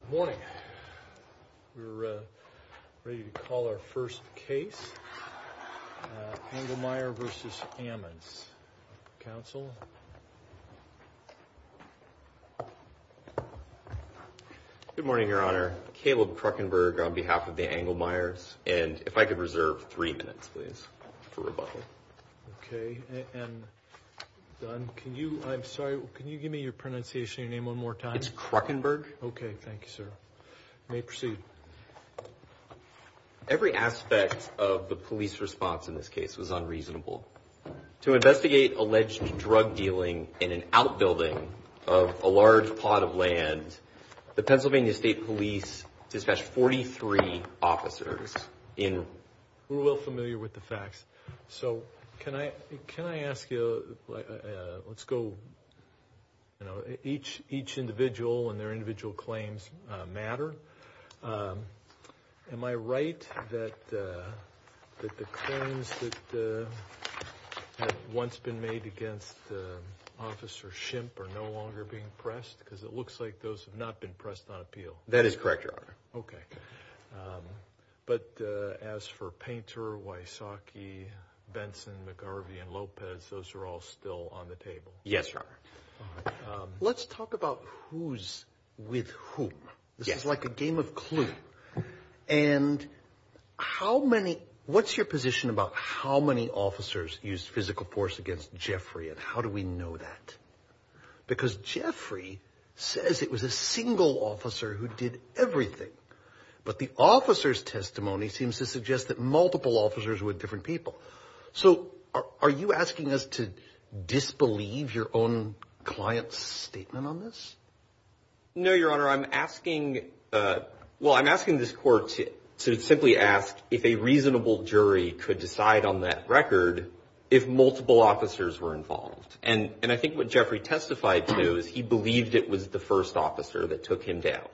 Good morning. We're ready to call our first case, Anglemeyer v. Ammons. Counsel. Good morning, Your Honor. Caleb Kruckenberg on behalf of the Anglemeyers. And if I could reserve three minutes, please, for rebuttal. Okay. And, Don, can you, I'm sorry, can you give me your pronunciation, your name one more time? It's Kruckenberg. Okay. Thank you, sir. You may proceed. Every aspect of the police response in this case was unreasonable. To investigate alleged drug dealing in an outbuilding of a large plot of land, the Pennsylvania State Police dispatched 43 officers in We're well familiar with the facts. So can I ask you, let's go, you know, each individual and their individual claims matter. Am I right that the claims that had once been made against Officer Shimp are no longer being pressed? Because it looks like those have not been pressed on appeal. That is correct, Your Honor. Okay. But as for Painter, Wysocki, Benson, McGarvey and Lopez, those are all still on the table. Yes, sir. Let's talk about who's with whom. This is like a game of Clue. And how many what's your position about how many officers use physical force against Jeffrey? And how do we know that? Because Jeffrey says it was a single officer who did everything. But the officer's testimony seems to suggest that multiple officers with different people. So are you asking us to disbelieve your own client's statement on this? No, Your Honor, I'm asking. Well, I'm asking this court to simply ask if a reasonable jury could decide on that record if multiple officers were involved. And I think what Jeffrey testified to is he believed it was the first officer that took him down,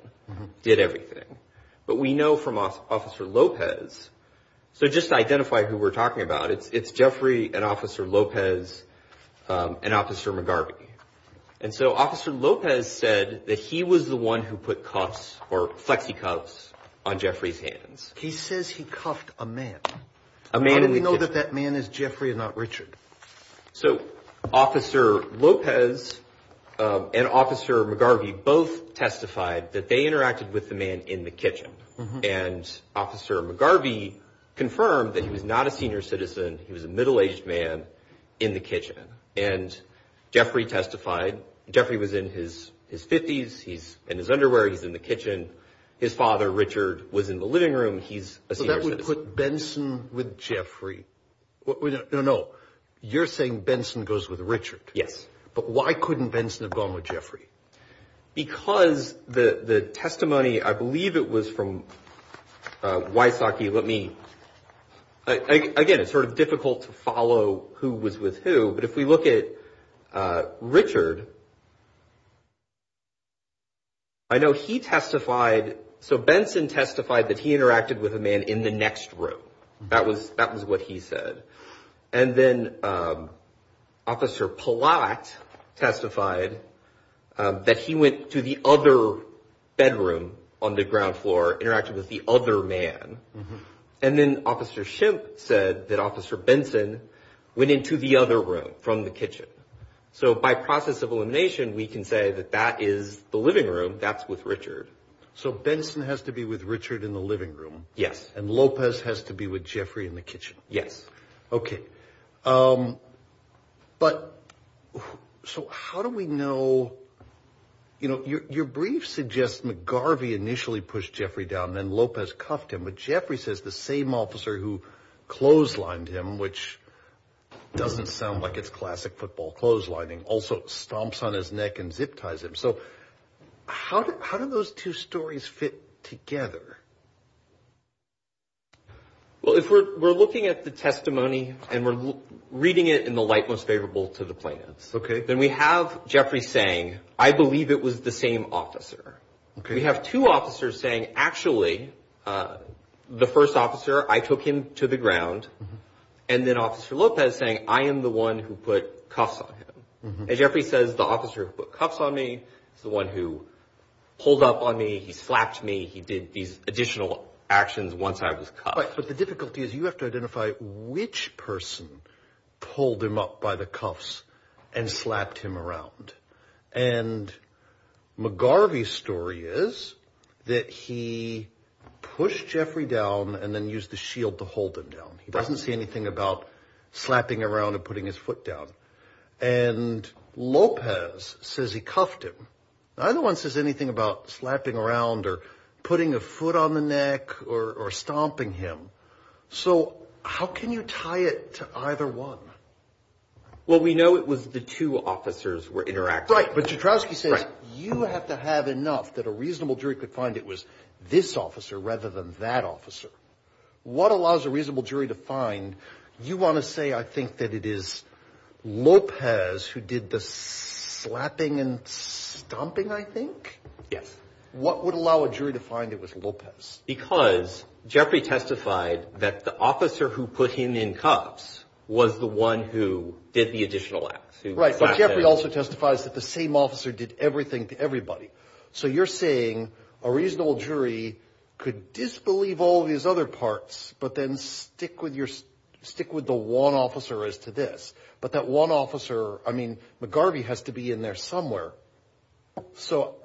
did everything. But we know from Officer Lopez. So just identify who we're talking about. It's Jeffrey and Officer Lopez and Officer McGarvey. And so Officer Lopez said that he was the one who put cuffs or flexi cuffs on Jeffrey's hands. He says he cuffed a man. A man. We know that that man is Jeffrey, not Richard. So Officer Lopez and Officer McGarvey both testified that they interacted with the man in the kitchen. And Officer McGarvey confirmed that he was not a senior citizen. He was a middle aged man in the kitchen. And Jeffrey testified. Jeffrey was in his his 50s. He's in his underwear. He's in the kitchen. His father, Richard, was in the living room. He's that would put Benson with Jeffrey. No, you're saying Benson goes with Richard. Yes. But why couldn't Benson have gone with Jeffrey? Because the testimony, I believe it was from Wysocki. Let me again. It's sort of difficult to follow who was with who. But if we look at Richard. I know he testified. So Benson testified that he interacted with a man in the next room. That was that was what he said. And then Officer Pollack testified that he went to the other bedroom on the ground floor, interacted with the other man. And then Officer Shimp said that Officer Benson went into the other room from the kitchen. So by process of elimination, we can say that that is the living room. That's with Richard. So Benson has to be with Richard in the living room. Yes. And Lopez has to be with Jeffrey in the kitchen. Yes. OK. But so how do we know, you know, your brief suggests McGarvey initially pushed Jeffrey down and Lopez cuffed him. But Jeffrey says the same officer who clotheslined him, which doesn't sound like it's classic football clothes lining, also stomps on his neck and zip ties him. So how do those two stories fit together? Well, if we're looking at the testimony and we're reading it in the light most favorable to the plaintiffs. OK. Then we have Jeffrey saying, I believe it was the same officer. We have two officers saying, actually, the first officer, I took him to the ground. And then Officer Lopez saying, I am the one who put cuffs on him. As Jeffrey says, the officer put cuffs on me, the one who pulled up on me. He slapped me. He did these additional actions once I was caught. But the difficulty is you have to identify which person pulled him up by the cuffs and slapped him around. And McGarvey story is that he pushed Jeffrey down and then used the shield to hold him down. He doesn't see anything about slapping around and putting his foot down. And Lopez says he cuffed him. Neither one says anything about slapping around or putting a foot on the neck or stomping him. So how can you tie it to either one? Well, we know it was the two officers were interacting. Right. But Joukowsky says you have to have enough that a reasonable jury could find it was this officer rather than that officer. What allows a reasonable jury to find you want to say? I think that it is Lopez who did the slapping and stomping, I think. Yes. What would allow a jury to find it was Lopez? Because Jeffrey testified that the officer who put him in cuffs was the one who did the additional acts. Right. But Jeffrey also testifies that the same officer did everything to everybody. So you're saying a reasonable jury could disbelieve all these other parts, but then stick with your stick with the one officer as to this. But that one officer, I mean, McGarvey has to be in there somewhere. So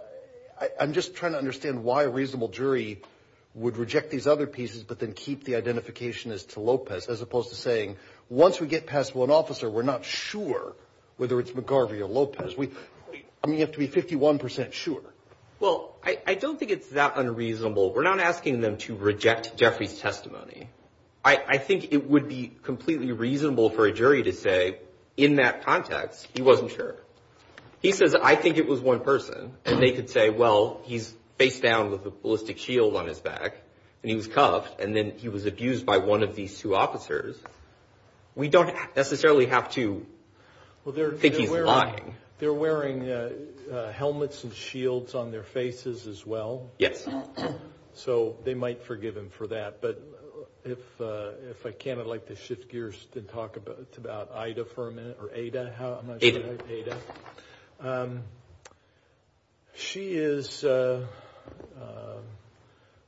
I'm just trying to understand why a reasonable jury would reject these other pieces, but then keep the identification as to Lopez, as opposed to saying once we get past one officer, we're not sure whether it's McGarvey or Lopez. We have to be 51 percent sure. Well, I don't think it's that unreasonable. We're not asking them to reject Jeffrey's testimony. I think it would be completely reasonable for a jury to say in that context, he wasn't sure. He says, I think it was one person. And they could say, well, he's faced down with a ballistic shield on his back and he was cuffed and then he was abused by one of these two officers. We don't necessarily have to think he's lying. They're wearing helmets and shields on their faces as well. Yes. So they might forgive him for that. But if I can, I'd like to shift gears and talk about Ida for a minute or Ada. Ada. She is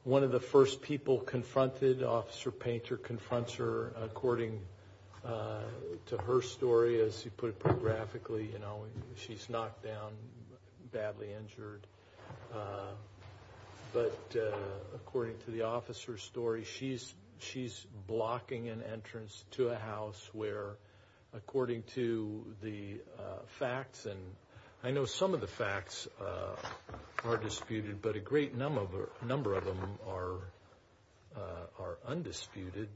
one of the first people confronted. Officer Painter confronts her according to her story. As you put it graphically, you know, she's knocked down, badly injured. But according to the officer's story, she's she's blocking an entrance to a house where, according to the facts, and I know some of the facts are disputed. But a great number of a number of them are are undisputed.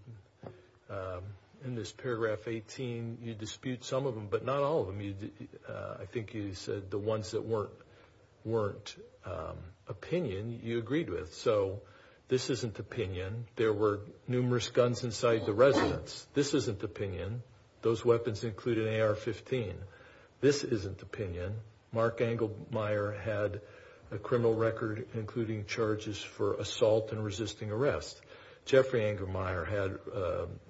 In this paragraph 18, you dispute some of them, but not all of them. I think you said the ones that weren't weren't opinion you agreed with. So this isn't opinion. There were numerous guns inside the residence. This isn't opinion. Those weapons include an AR-15. This isn't opinion. Mark Engelmeyer had a criminal record, including charges for assault and resisting arrest. Jeffrey Engelmeyer had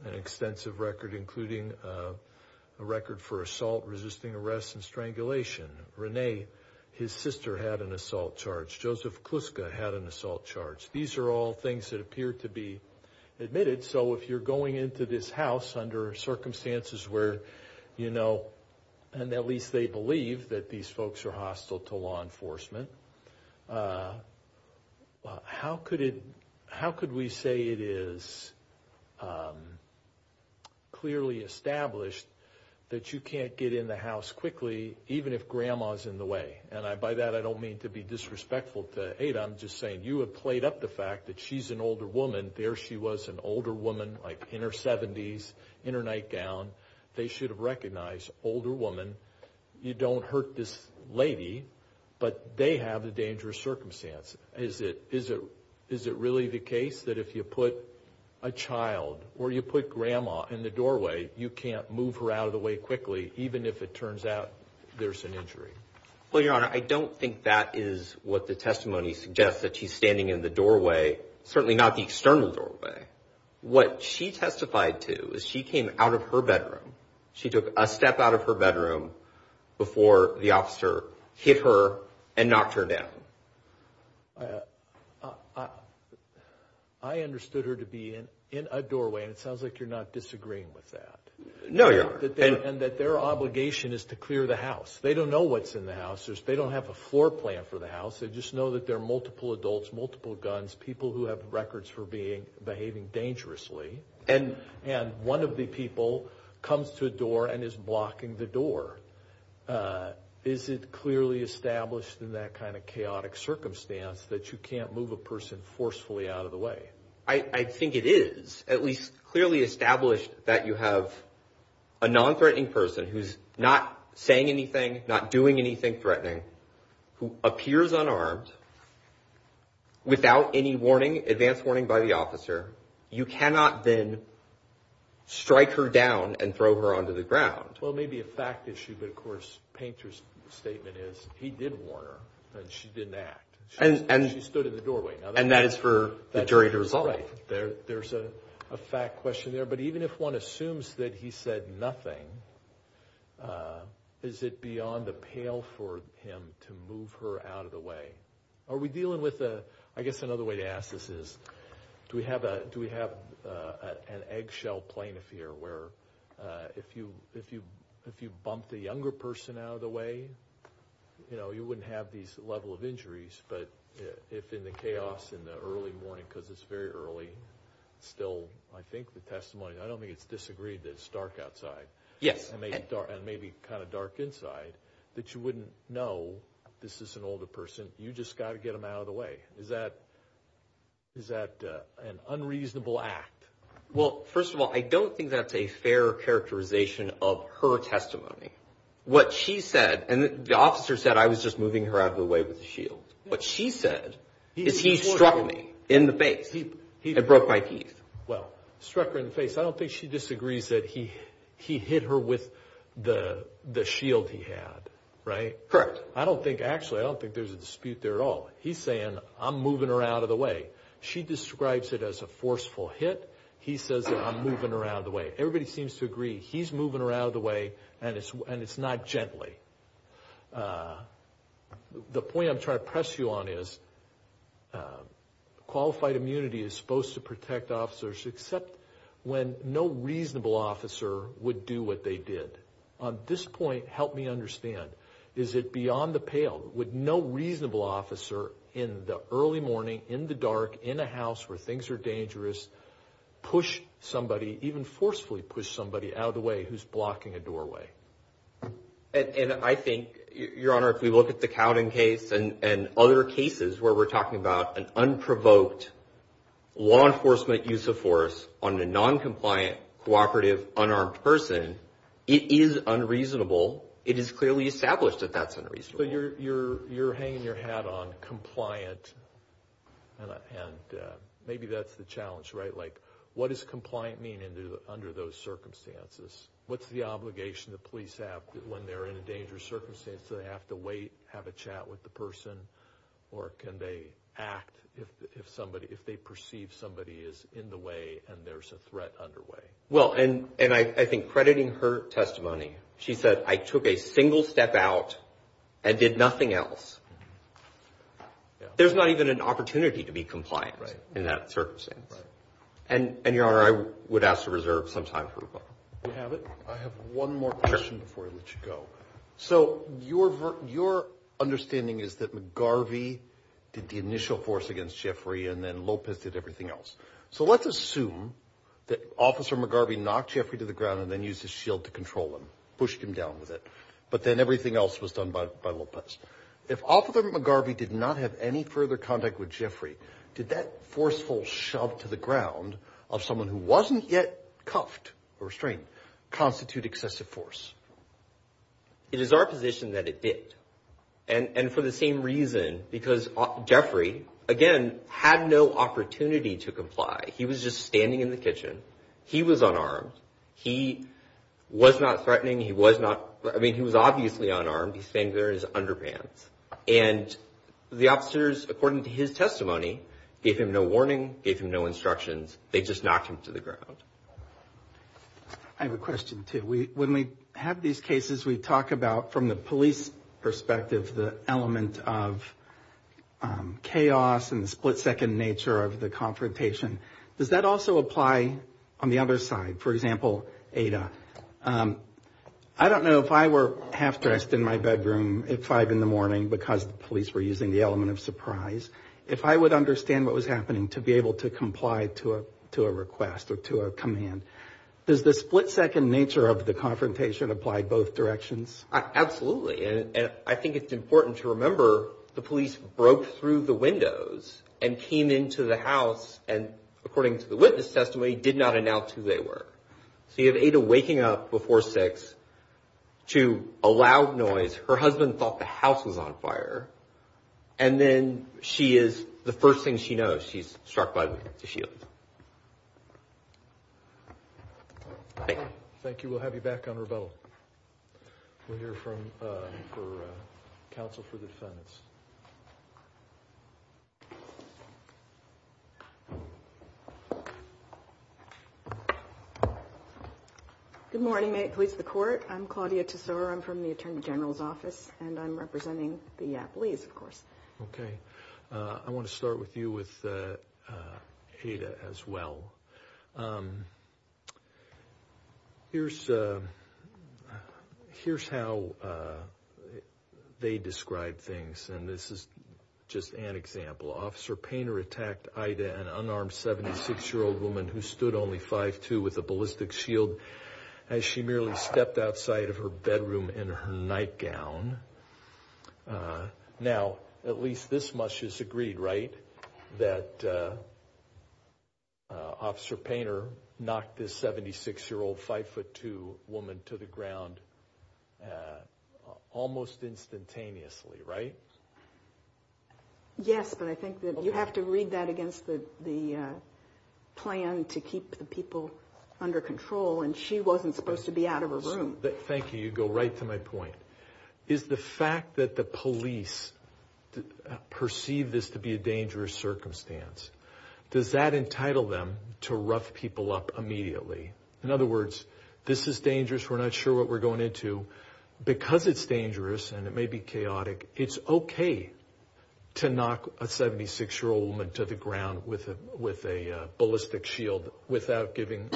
an extensive record, including a record for assault, resisting arrest and strangulation. Rene, his sister, had an assault charge. Joseph Kluska had an assault charge. These are all things that appear to be admitted. So if you're going into this house under circumstances where, you know, and at least they believe that these folks are hostile to law enforcement. How could it how could we say it is clearly established that you can't get in the house quickly, even if grandma's in the way? And I buy that. I don't mean to be disrespectful to Ada. I'm just saying you have played up the fact that she's an older woman. There she was, an older woman, like in her 70s, in her nightgown. They should have recognized older woman. You don't hurt this lady, but they have a dangerous circumstance. Is it really the case that if you put a child or you put grandma in the doorway, you can't move her out of the way quickly, even if it turns out there's an injury? Well, Your Honor, I don't think that is what the testimony suggests, that she's standing in the doorway, certainly not the external doorway. What she testified to is she came out of her bedroom. She took a step out of her bedroom before the officer hit her and knocked her down. I understood her to be in a doorway, and it sounds like you're not disagreeing with that. No, Your Honor. And that their obligation is to clear the house. They don't know what's in the house. They don't have a floor plan for the house. They just know that there are multiple adults, multiple guns, people who have records for behaving dangerously. And one of the people comes to a door and is blocking the door. Is it clearly established in that kind of chaotic circumstance that you can't move a person forcefully out of the way? I think it is at least clearly established that you have a nonthreatening person who's not saying anything, not doing anything threatening, who appears unarmed without any warning, advance warning by the officer. You cannot then strike her down and throw her onto the ground. Well, it may be a fact issue, but of course Painter's statement is he did warn her and she didn't act. She stood in the doorway. And that is for the jury to resolve. Right. There's a fact question there. But even if one assumes that he said nothing, is it beyond the pale for him to move her out of the way? Are we dealing with a I guess another way to ask this is do we have a do we have an eggshell plaintiff here where if you if you if you bump the younger person out of the way, you know, you wouldn't have these level of injuries. But if in the chaos in the early morning, because it's very early still, I think the testimony I don't think it's disagreed that it's dark outside. Yes. And maybe kind of dark inside that you wouldn't know this is an older person. You just got to get them out of the way. Is that is that an unreasonable act? Well, first of all, I don't think that's a fair characterization of her testimony. What she said and the officer said I was just moving her out of the way with the shield. What she said is he struck me in the face. He broke my teeth. Well, struck her in the face. I don't think she disagrees that he he hit her with the the shield he had. Right. Correct. I don't think actually I don't think there's a dispute there at all. He's saying I'm moving her out of the way. She describes it as a forceful hit. He says I'm moving her out of the way. Everybody seems to agree he's moving her out of the way and it's and it's not gently. The point I'm trying to press you on is qualified immunity is supposed to protect officers except when no reasonable officer would do what they did. On this point. Help me understand. Is it beyond the pale with no reasonable officer in the early morning in the dark in a house where things are dangerous? Push somebody even forcefully push somebody out of the way who's blocking a doorway. And I think, Your Honor, if we look at the Cowden case and other cases where we're talking about an unprovoked law enforcement use of force on a noncompliant cooperative unarmed person, it is unreasonable. It is clearly established that that's unreasonable. So you're you're you're hanging your hat on compliant. And maybe that's the challenge, right? Like, what is compliant mean under those circumstances? What's the obligation the police have when they're in a dangerous circumstance? Do they have to wait, have a chat with the person or can they act if somebody if they perceive somebody is in the way and there's a threat underway? Well, and and I think crediting her testimony, she said, I took a single step out and did nothing else. There's not even an opportunity to be compliant in that circumstance. And your honor, I would ask to reserve some time. You have it. I have one more question before I let you go. So your your understanding is that McGarvey did the initial force against Jeffrey and then Lopez did everything else. So let's assume that Officer McGarvey knocked Jeffrey to the ground and then used his shield to control him, pushed him down with it. But then everything else was done by Lopez. If Officer McGarvey did not have any further contact with Jeffrey, did that forceful shove to the ground of someone who wasn't yet cuffed or restrained constitute excessive force? It is our position that it did. And for the same reason, because Jeffrey, again, had no opportunity to comply. He was just standing in the kitchen. He was unarmed. He was not threatening. He was not. I mean, he was obviously unarmed. He's saying there is underpants. And the officers, according to his testimony, gave him no warning, gave him no instructions. They just knocked him to the ground. I have a question, too. When we have these cases, we talk about, from the police perspective, the element of chaos and the split-second nature of the confrontation. Does that also apply on the other side? For example, Ada, I don't know if I were half-dressed in my bedroom at 5 in the morning because the police were using the element of surprise, if I would understand what was happening to be able to comply to a request or to a command. Does the split-second nature of the confrontation apply both directions? Absolutely. And I think it's important to remember the police broke through the windows and came into the house and, according to the witness testimony, did not announce who they were. So you have Ada waking up before 6 to a loud noise. Her husband thought the house was on fire. And then she is, the first thing she knows, she's struck by the shield. Thank you. Thank you. We'll have you back on rebuttal. We'll hear from counsel for the defendants. Good morning. May it please the Court. I'm Claudia Tesoro. I'm from the Attorney General's Office, and I'm representing the athletes, of course. Okay. I want to start with you with Ada as well. Here's how they describe things, and this is just an example. Now, at least this much is agreed, right, that Officer Painter knocked this 76-year-old 5'2 woman to the ground almost instantaneously, right? Yes, but I think that you have to read that against the plan to keep the people under control, and she wasn't supposed to be out of her room. Thank you. You go right to my point. Is the fact that the police perceive this to be a dangerous circumstance, does that entitle them to rough people up immediately? In other words, this is dangerous, we're not sure what we're going into. Because it's dangerous and it may be chaotic, it's okay to knock a 76-year-old woman to the ground with a ballistic shield without giving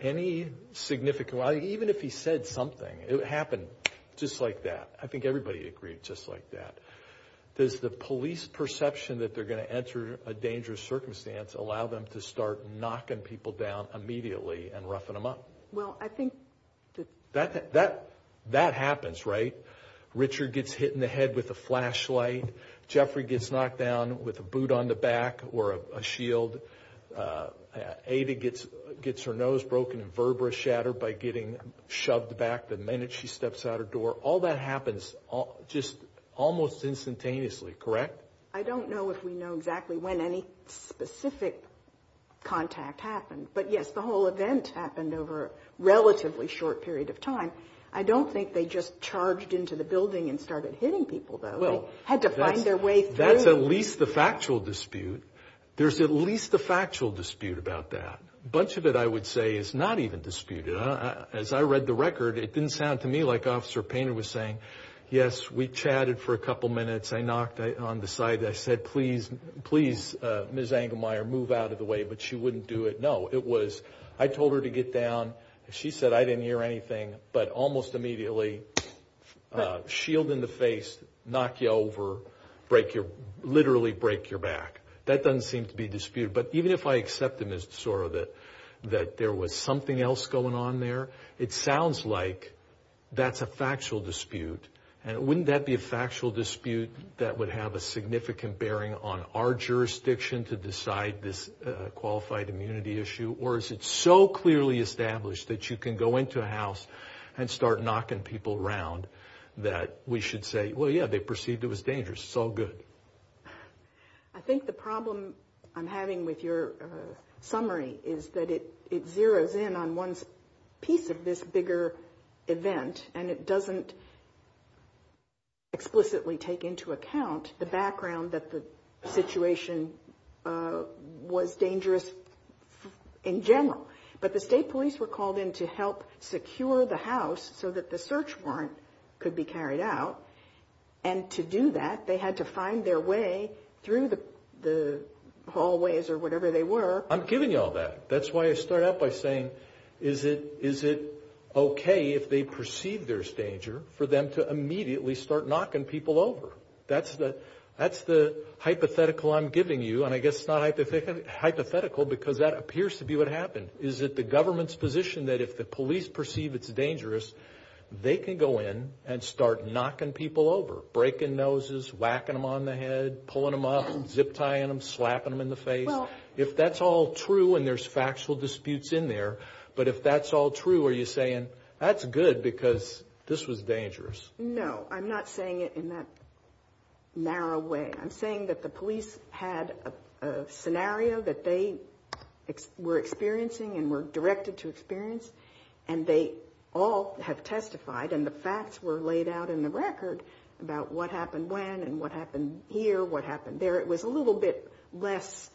any significant, even if he said something, it would happen just like that. I think everybody agreed just like that. Does the police perception that they're going to enter a dangerous circumstance allow them to start knocking people down immediately and roughing them up? Well, I think that... That happens, right? Richard gets hit in the head with a flashlight. Jeffrey gets knocked down with a boot on the back or a shield. Ada gets her nose broken and verba shattered by getting shoved back the minute she steps out her door. All that happens just almost instantaneously, correct? I don't know if we know exactly when any specific contact happened. But, yes, the whole event happened over a relatively short period of time. I don't think they just charged into the building and started hitting people, though. They had to find their way through. That's at least the factual dispute. There's at least the factual dispute about that. A bunch of it, I would say, is not even disputed. As I read the record, it didn't sound to me like Officer Painter was saying, yes, we chatted for a couple minutes, I knocked on the side, I said, please, please, Ms. Engelmeyer, move out of the way, but she wouldn't do it. No, it was, I told her to get down. She said, I didn't hear anything. But almost immediately, shield in the face, knock you over, literally break your back. That doesn't seem to be disputed. But even if I accept them as sort of that there was something else going on there, it sounds like that's a factual dispute. And wouldn't that be a factual dispute that would have a significant bearing on our jurisdiction to decide this qualified immunity issue? Or is it so clearly established that you can go into a house and start knocking people around that we should say, well, yeah, they perceived it was dangerous. It's all good. I think the problem I'm having with your summary is that it zeroes in on one piece of this bigger event and it doesn't explicitly take into account the background that the situation was dangerous in general. But the state police were called in to help secure the house so that the search warrant could be carried out. And to do that, they had to find their way through the hallways or whatever they were. I'm giving you all that. That's why I start out by saying, is it okay if they perceive there's danger for them to immediately start knocking people over? That's the hypothetical I'm giving you. And I guess it's not hypothetical because that appears to be what happened. Is it the government's position that if the police perceive it's dangerous, they can go in and start knocking people over, breaking noses, whacking them on the head, pulling them up, zip-tying them, slapping them in the face? If that's all true and there's factual disputes in there, but if that's all true, are you saying that's good because this was dangerous? No. I'm not saying it in that narrow way. I'm saying that the police had a scenario that they were experiencing and were directed to experience, and they all have testified and the facts were laid out in the record about what happened when and what happened here, what happened there. It was a little bit less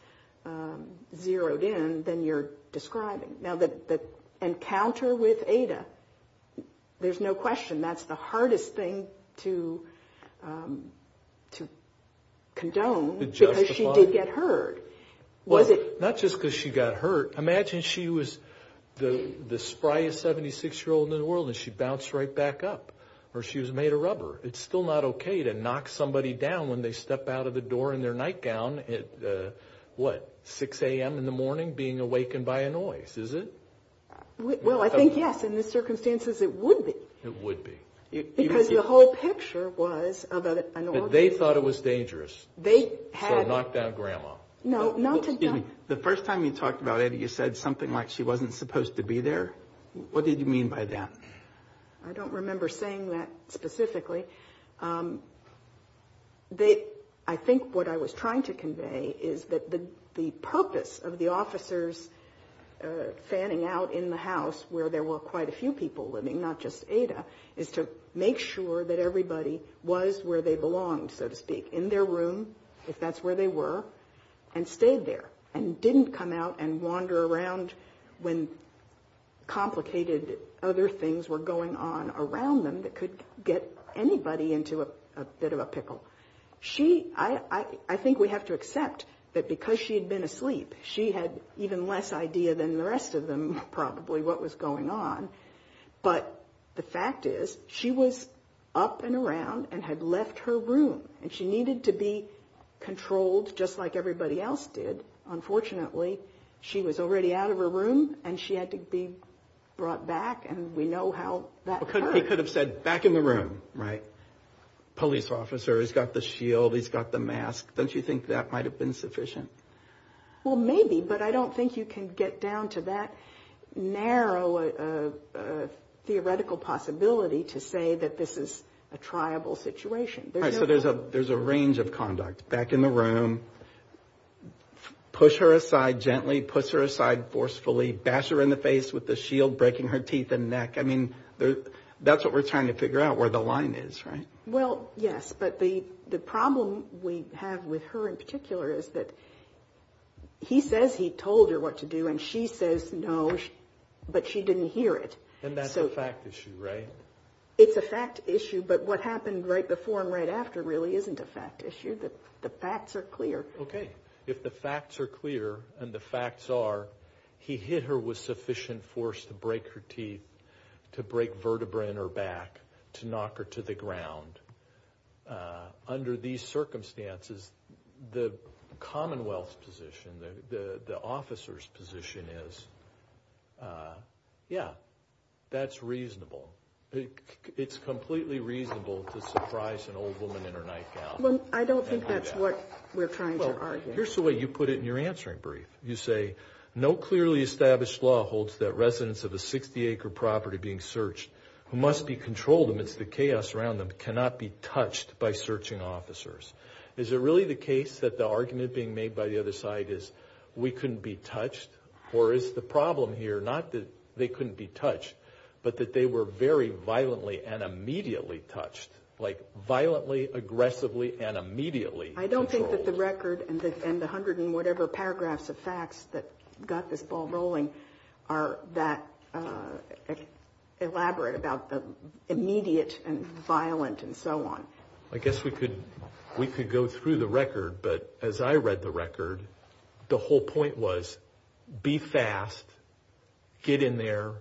zeroed in than you're describing. Now, the encounter with Ada, there's no question that's the hardest thing to condone because she did get hurt. Not just because she got hurt. Imagine she was the spryest 76-year-old in the world and she bounced right back up or she was made of rubber. It's still not okay to knock somebody down when they step out of the door in their nightgown at, what, 6 a.m. in the morning being awakened by a noise, is it? Well, I think yes. In the circumstances, it would be. It would be. Because the whole picture was of an altercation. They thought it was dangerous. They had. So knock down Grandma. No. Excuse me. The first time you talked about it, you said something like she wasn't supposed to be there. What did you mean by that? I don't remember saying that specifically. I think what I was trying to convey is that the purpose of the officers fanning out in the house where there were quite a few people living, not just Ada, is to make sure that everybody was where they belonged, so to speak, in their room, if that's where they were, and stayed there and didn't come out and wander around when complicated other things were going on around them that could get anybody into a bit of a pickle. I think we have to accept that because she had been asleep, she had even less idea than the rest of them probably what was going on. But the fact is she was up and around and had left her room, and she needed to be controlled just like everybody else did. Unfortunately, she was already out of her room, and she had to be brought back, and we know how that occurred. He could have said, back in the room, right? Police officer, he's got the shield, he's got the mask. Don't you think that might have been sufficient? Well, maybe, but I don't think you can get down to that narrow theoretical possibility to say that this is a triable situation. All right, so there's a range of conduct. Back in the room, push her aside gently, push her aside forcefully, bash her in the face with the shield, breaking her teeth and neck. I mean, that's what we're trying to figure out, where the line is, right? Well, yes, but the problem we have with her in particular is that he says he told her what to do, and she says no, but she didn't hear it. And that's a fact issue, right? It's a fact issue, but what happened right before and right after really isn't a fact issue. The facts are clear. Okay, if the facts are clear, and the facts are he hit her with sufficient force to break her teeth, to break vertebrae in her back, to knock her to the ground, under these circumstances, the Commonwealth's position, the officer's position is, yeah, that's reasonable. It's completely reasonable to surprise an old woman in her nightgown. Well, I don't think that's what we're trying to argue. Here's the way you put it in your answering brief. You say, no clearly established law holds that residents of a 60-acre property being searched who must be controlled amidst the chaos around them cannot be touched by searching officers. Is it really the case that the argument being made by the other side is we couldn't be touched, or is the problem here not that they couldn't be touched, but that they were very violently and immediately touched, like violently, aggressively, and immediately controlled? I don't think that the record and the hundred and whatever paragraphs of facts that got this ball rolling are that elaborate about the immediate and violent and so on. I guess we could go through the record, but as I read the record, the whole point was be fast, get in there,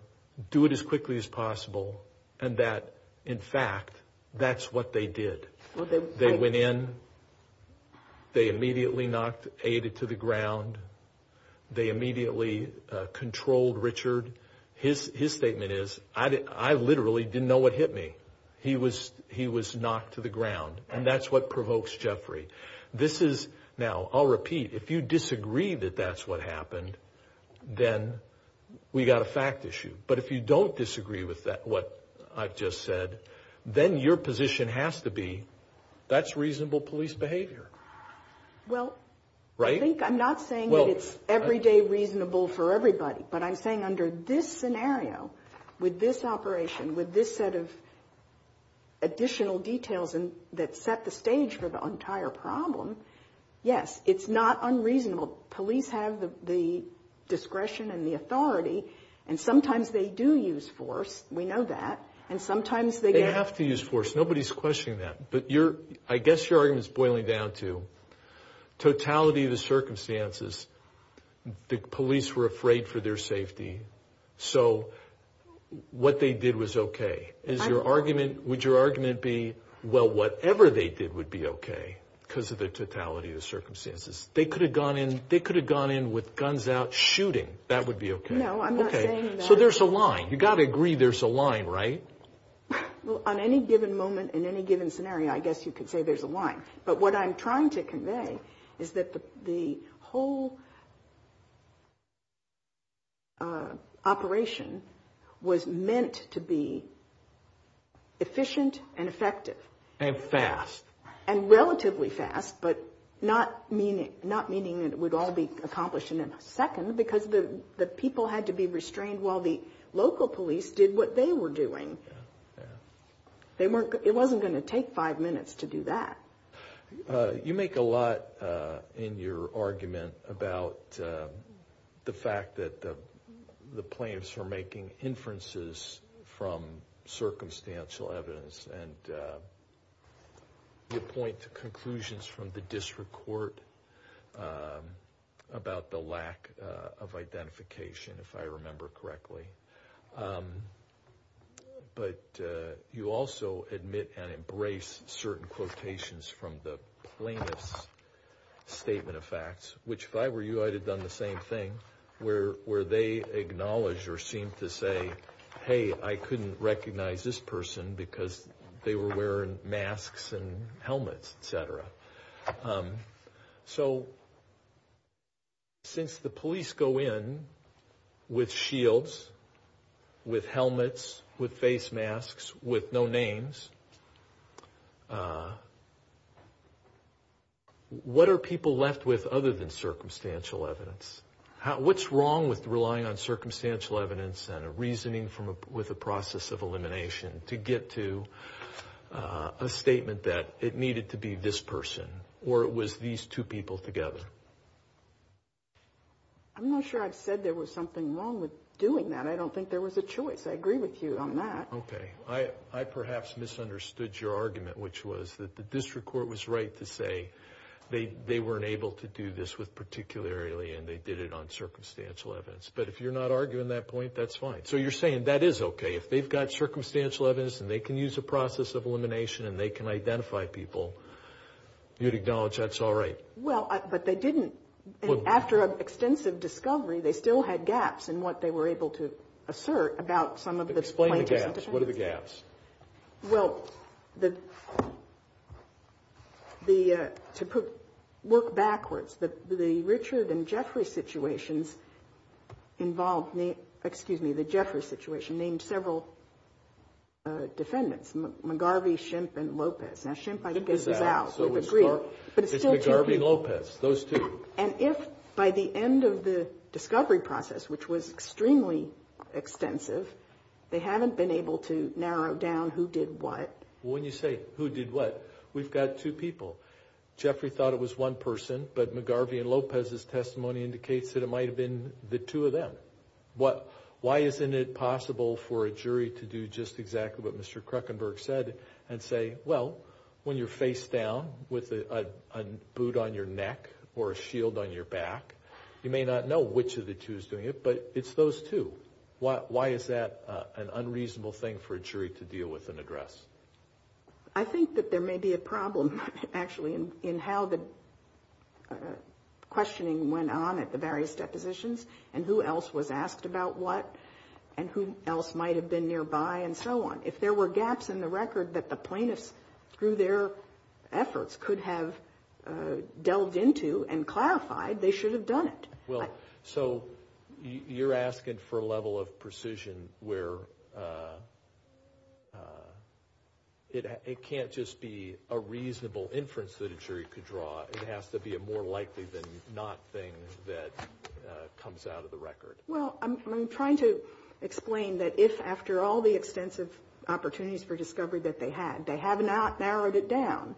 do it as quickly as possible, and that, in fact, that's what they did. They went in. They immediately knocked Ada to the ground. They immediately controlled Richard. His statement is, I literally didn't know what hit me. He was knocked to the ground, and that's what provokes Jeffrey. Now, I'll repeat. If you disagree that that's what happened, then we've got a fact issue. But if you don't disagree with what I've just said, then your position has to be that's reasonable police behavior. Well, I think I'm not saying that it's everyday reasonable for everybody, but I'm saying under this scenario, with this operation, with this set of additional details that set the stage for the entire problem, yes, it's not unreasonable. Police have the discretion and the authority, and sometimes they do use force. We know that. And sometimes they don't. They have to use force. Nobody's questioning that. But I guess your argument is boiling down to totality of the circumstances. The police were afraid for their safety. So what they did was okay. Would your argument be, well, whatever they did would be okay because of the totality of the circumstances. They could have gone in with guns out shooting. That would be okay. No, I'm not saying that. Okay. So there's a line. You've got to agree there's a line, right? Well, on any given moment in any given scenario, I guess you could say there's a line. But what I'm trying to convey is that the whole operation was meant to be efficient and effective. And fast. And relatively fast, but not meaning that it would all be accomplished in a second because the people had to be restrained while the local police did what they were doing. It wasn't going to take five minutes to do that. You make a lot in your argument about the fact that the plaintiffs were making inferences from circumstantial evidence and your point to conclusions from the district court about the lack of identification, if I remember correctly. But you also admit and embrace certain quotations from the plaintiff's statement of facts, which if I were you, I'd have done the same thing, where they acknowledge or seem to say, hey, I couldn't recognize this person because they were wearing masks and helmets, et cetera. So since the police go in with shields, with helmets, with face masks, with no names, what are people left with other than circumstantial evidence? What's wrong with relying on circumstantial evidence and a reasoning with a process of elimination to get to a statement that it needed to be this person or it was these two people together? I'm not sure I've said there was something wrong with doing that. I don't think there was a choice. I agree with you on that. Okay. I perhaps misunderstood your argument, which was that the district court was right to say they weren't able to do this particularly and they did it on circumstantial evidence. But if you're not arguing that point, that's fine. So you're saying that is okay. If they've got circumstantial evidence and they can use a process of elimination and they can identify people, you'd acknowledge that's all right? Well, but they didn't. After an extensive discovery, they still had gaps in what they were able to assert about some of the plaintiffs. Explain the gaps. What are the gaps? Well, to work backwards, the Richard and Jeffrey situations involved, excuse me, the Jeffrey situation named several defendants, McGarvey, Shimp, and Lopez. Now, Shimp, I think, is out. We've agreed. But it's still two people. It's McGarvey and Lopez, those two. And if by the end of the discovery process, which was extremely extensive, they haven't been able to narrow down who did what. Well, when you say who did what, we've got two people. Jeffrey thought it was one person, but McGarvey and Lopez's testimony indicates that it might have been the two of them. Why isn't it possible for a jury to do just exactly what Mr. Kruckenberg said and say, well, when you're face down with a boot on your neck or a shield on your back, you may not know which of the two is doing it, but it's those two. Why is that an unreasonable thing for a jury to deal with an address? I think that there may be a problem, actually, in how the questioning went on at the various depositions and who else was asked about what and who else might have been nearby and so on. If there were gaps in the record that the plaintiffs, through their efforts, could have delved into and clarified, they should have done it. Well, so you're asking for a level of precision where it can't just be a reasonable inference that a jury could draw. It has to be a more likely than not thing that comes out of the record. Well, I'm trying to explain that if, after all the extensive opportunities for discovery that they had, they have not narrowed it down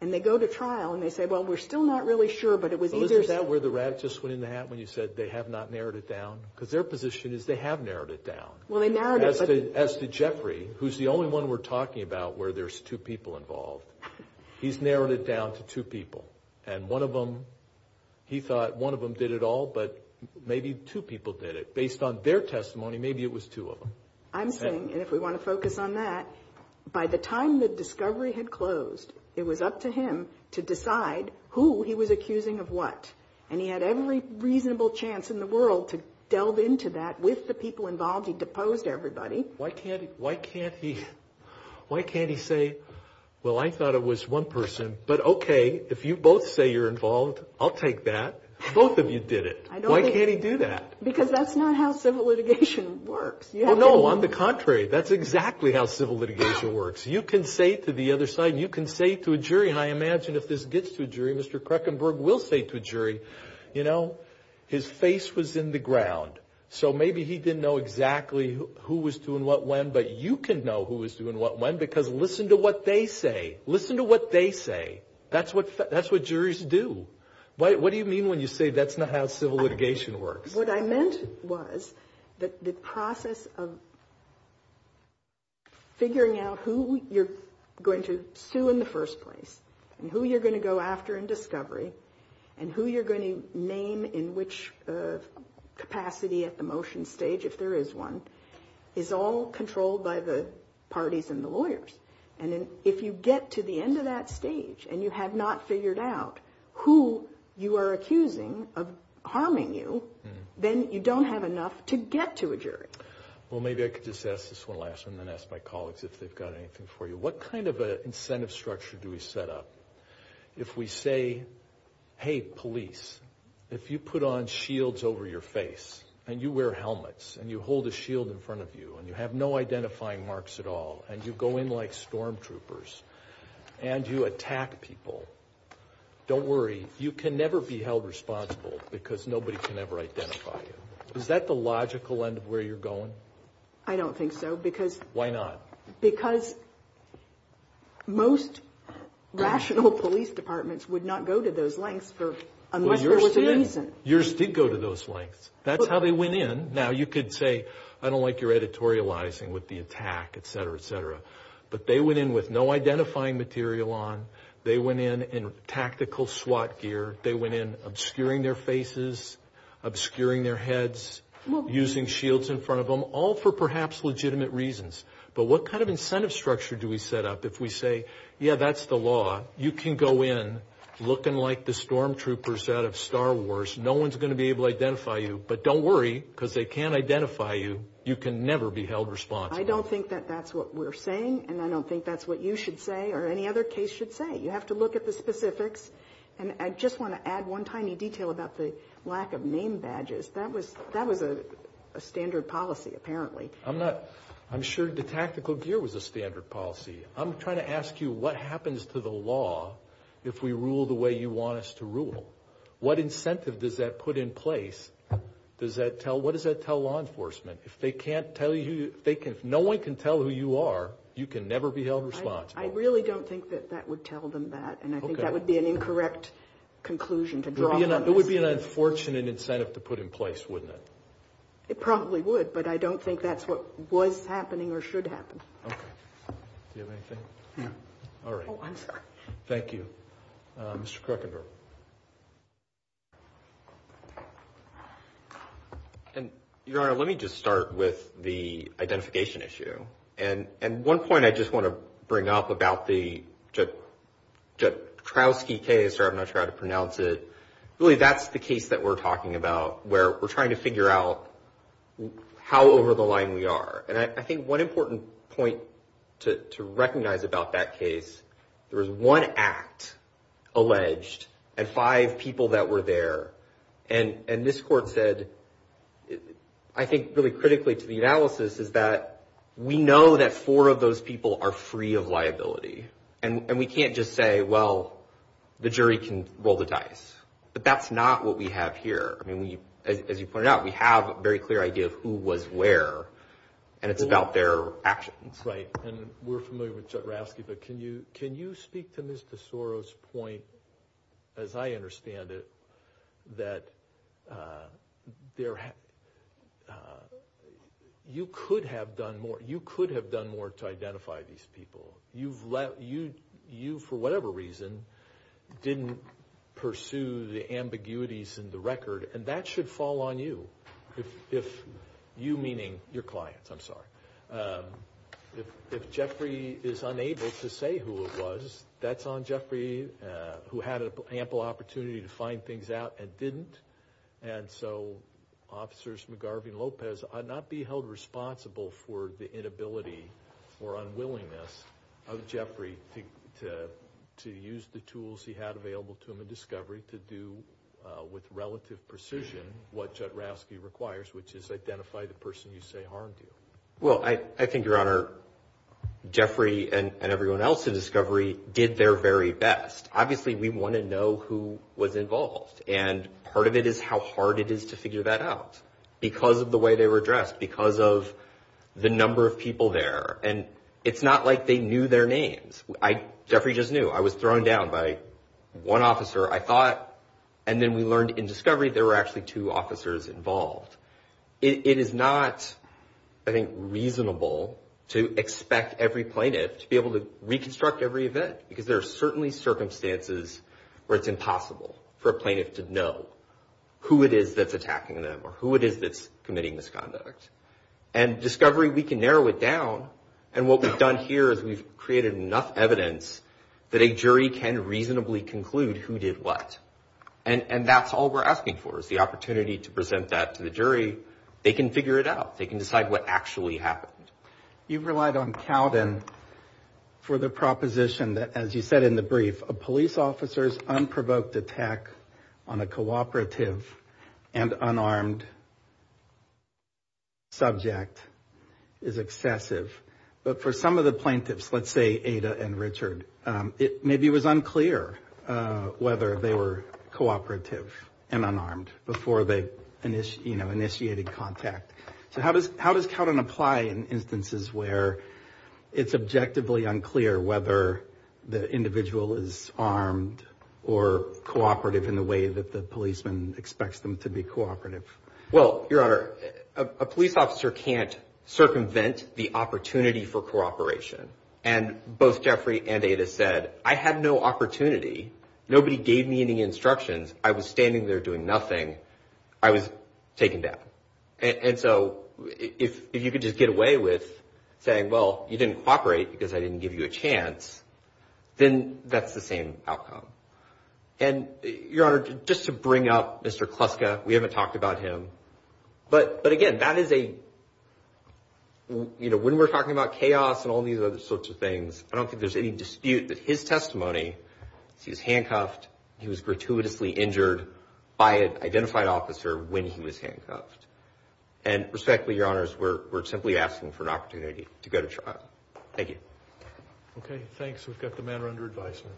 and they go to trial and they say, well, we're still not really sure, but it was easier. Is that where the rat just went in the hat when you said they have not narrowed it down? Because their position is they have narrowed it down. Well, they narrowed it. As did Jeffrey, who's the only one we're talking about where there's two people involved. He's narrowed it down to two people. And one of them, he thought one of them did it all, but maybe two people did it. Based on their testimony, maybe it was two of them. I'm saying, and if we want to focus on that, by the time the discovery had closed, it was up to him to decide who he was accusing of what. And he had every reasonable chance in the world to delve into that with the people involved. He deposed everybody. Why can't he say, well, I thought it was one person, but okay, if you both say you're involved, I'll take that. Both of you did it. Why can't he do that? Because that's not how civil litigation works. No, on the contrary. That's exactly how civil litigation works. You can say to the other side and you can say to a jury, and I imagine if this gets to a jury, Mr. Krekenberg will say to a jury, you know, his face was in the ground. So maybe he didn't know exactly who was doing what when, but you can know who was doing what when because listen to what they say. Listen to what they say. That's what juries do. What do you mean when you say that's not how civil litigation works? What I meant was that the process of figuring out who you're going to sue in the first place and who you're going to go after in discovery and who you're going to name in which capacity at the motion stage, if there is one, is all controlled by the parties and the lawyers. And if you get to the end of that stage and you have not figured out who you are accusing of harming you, then you don't have enough to get to a jury. Well, maybe I could just ask this one last one and then ask my colleagues if they've got anything for you. What kind of an incentive structure do we set up if we say, hey, police, if you put on shields over your face and you wear helmets and you hold a shield in front of you and you have no identifying marks at all and you go in like storm troopers and you attack people, don't worry. You can never be held responsible because nobody can ever identify you. Is that the logical end of where you're going? I don't think so because... Why not? Because most rational police departments would not go to those lengths unless there was a reason. Yours did go to those lengths. That's how they went in. Now, you could say, I don't like your editorializing with the attack, et cetera, et cetera. But they went in with no identifying material on. They went in in tactical SWAT gear. They went in obscuring their faces, obscuring their heads, using shields in front of them, all for perhaps legitimate reasons. But what kind of incentive structure do we set up if we say, yeah, that's the law. You can go in looking like the storm troopers out of Star Wars. No one's going to be able to identify you. But don't worry because they can't identify you. You can never be held responsible. I don't think that that's what we're saying, and I don't think that's what you should say or any other case should say. You have to look at the specifics. And I just want to add one tiny detail about the lack of name badges. That was a standard policy, apparently. I'm sure the tactical gear was a standard policy. I'm trying to ask you what happens to the law if we rule the way you want us to rule? What incentive does that put in place? What does that tell law enforcement? If no one can tell who you are, you can never be held responsible. I really don't think that that would tell them that, and I think that would be an incorrect conclusion to draw from this. It would be an unfortunate incentive to put in place, wouldn't it? It probably would, but I don't think that's what was happening or should happen. Okay. Do you have anything? No. All right. Oh, I'm sorry. Thank you. Mr. Kruckenberg. Your Honor, let me just start with the identification issue. And one point I just want to bring up about the Jatkrowski case, or I'm not sure how to pronounce it. Really, that's the case that we're talking about, where we're trying to figure out how over the line we are. And I think one important point to recognize about that case, there was one act alleged and five people that were there. And this Court said, I think really critically to the analysis, is that we know that four of those people are free of liability. And we can't just say, well, the jury can roll the dice. But that's not what we have here. As you pointed out, we have a very clear idea of who was where, and it's about their actions. Right. And we're familiar with Jatkrowski, but can you speak to Ms. DeSoro's point, as I understand it, that you could have done more to identify these people. You, for whatever reason, didn't pursue the ambiguities in the record, and that should fall on you, you meaning your clients, I'm sorry. If Jeffrey is unable to say who it was, that's on Jeffrey, who had ample opportunity to find things out and didn't. And so Officers McGarvey and Lopez ought not be held responsible for the inability or unwillingness of Jeffrey to use the tools he had available to him in discovery to do with relative precision what Jatkrowski requires, which is identify the person you say harmed you. Well, I think, Your Honor, Jeffrey and everyone else in discovery did their very best. Obviously, we want to know who was involved, and part of it is how hard it is to figure that out, because of the way they were dressed, because of the number of people there. And it's not like they knew their names. Jeffrey just knew. I was thrown down by one officer. I thought, and then we learned in discovery there were actually two officers involved. It is not, I think, reasonable to expect every plaintiff to be able to reconstruct every event, because there are certainly circumstances where it's impossible for a plaintiff to know who it is that's attacking them or who it is that's committing misconduct. And discovery, we can narrow it down, and what we've done here is we've created enough evidence that a jury can reasonably conclude who did what. And that's all we're asking for is the opportunity to present that to the jury. They can figure it out. They can decide what actually happened. You've relied on Cowden for the proposition that, as you said in the brief, a police officer's unprovoked attack on a cooperative and unarmed subject is excessive. But for some of the plaintiffs, let's say Ada and Richard, maybe it was unclear whether they were cooperative and unarmed before they initiated contact. So how does Cowden apply in instances where it's objectively unclear whether the individual is armed or cooperative in the way that the policeman expects them to be cooperative? Well, Your Honor, a police officer can't circumvent the opportunity for cooperation. And both Jeffrey and Ada said, I had no opportunity. Nobody gave me any instructions. I was standing there doing nothing. I was taken down. And so if you could just get away with saying, well, you didn't cooperate because I didn't give you a chance, then that's the same outcome. And, Your Honor, just to bring up Mr. Kluska, we haven't talked about him, but, again, that is a, you know, when we're talking about chaos and all these other sorts of things, I don't think there's any dispute that his testimony, he was handcuffed, he was gratuitously injured by an identified officer when he was handcuffed. And respectfully, Your Honors, we're simply asking for an opportunity to go to trial. Thank you. Okay, thanks. We've got the matter under advisement.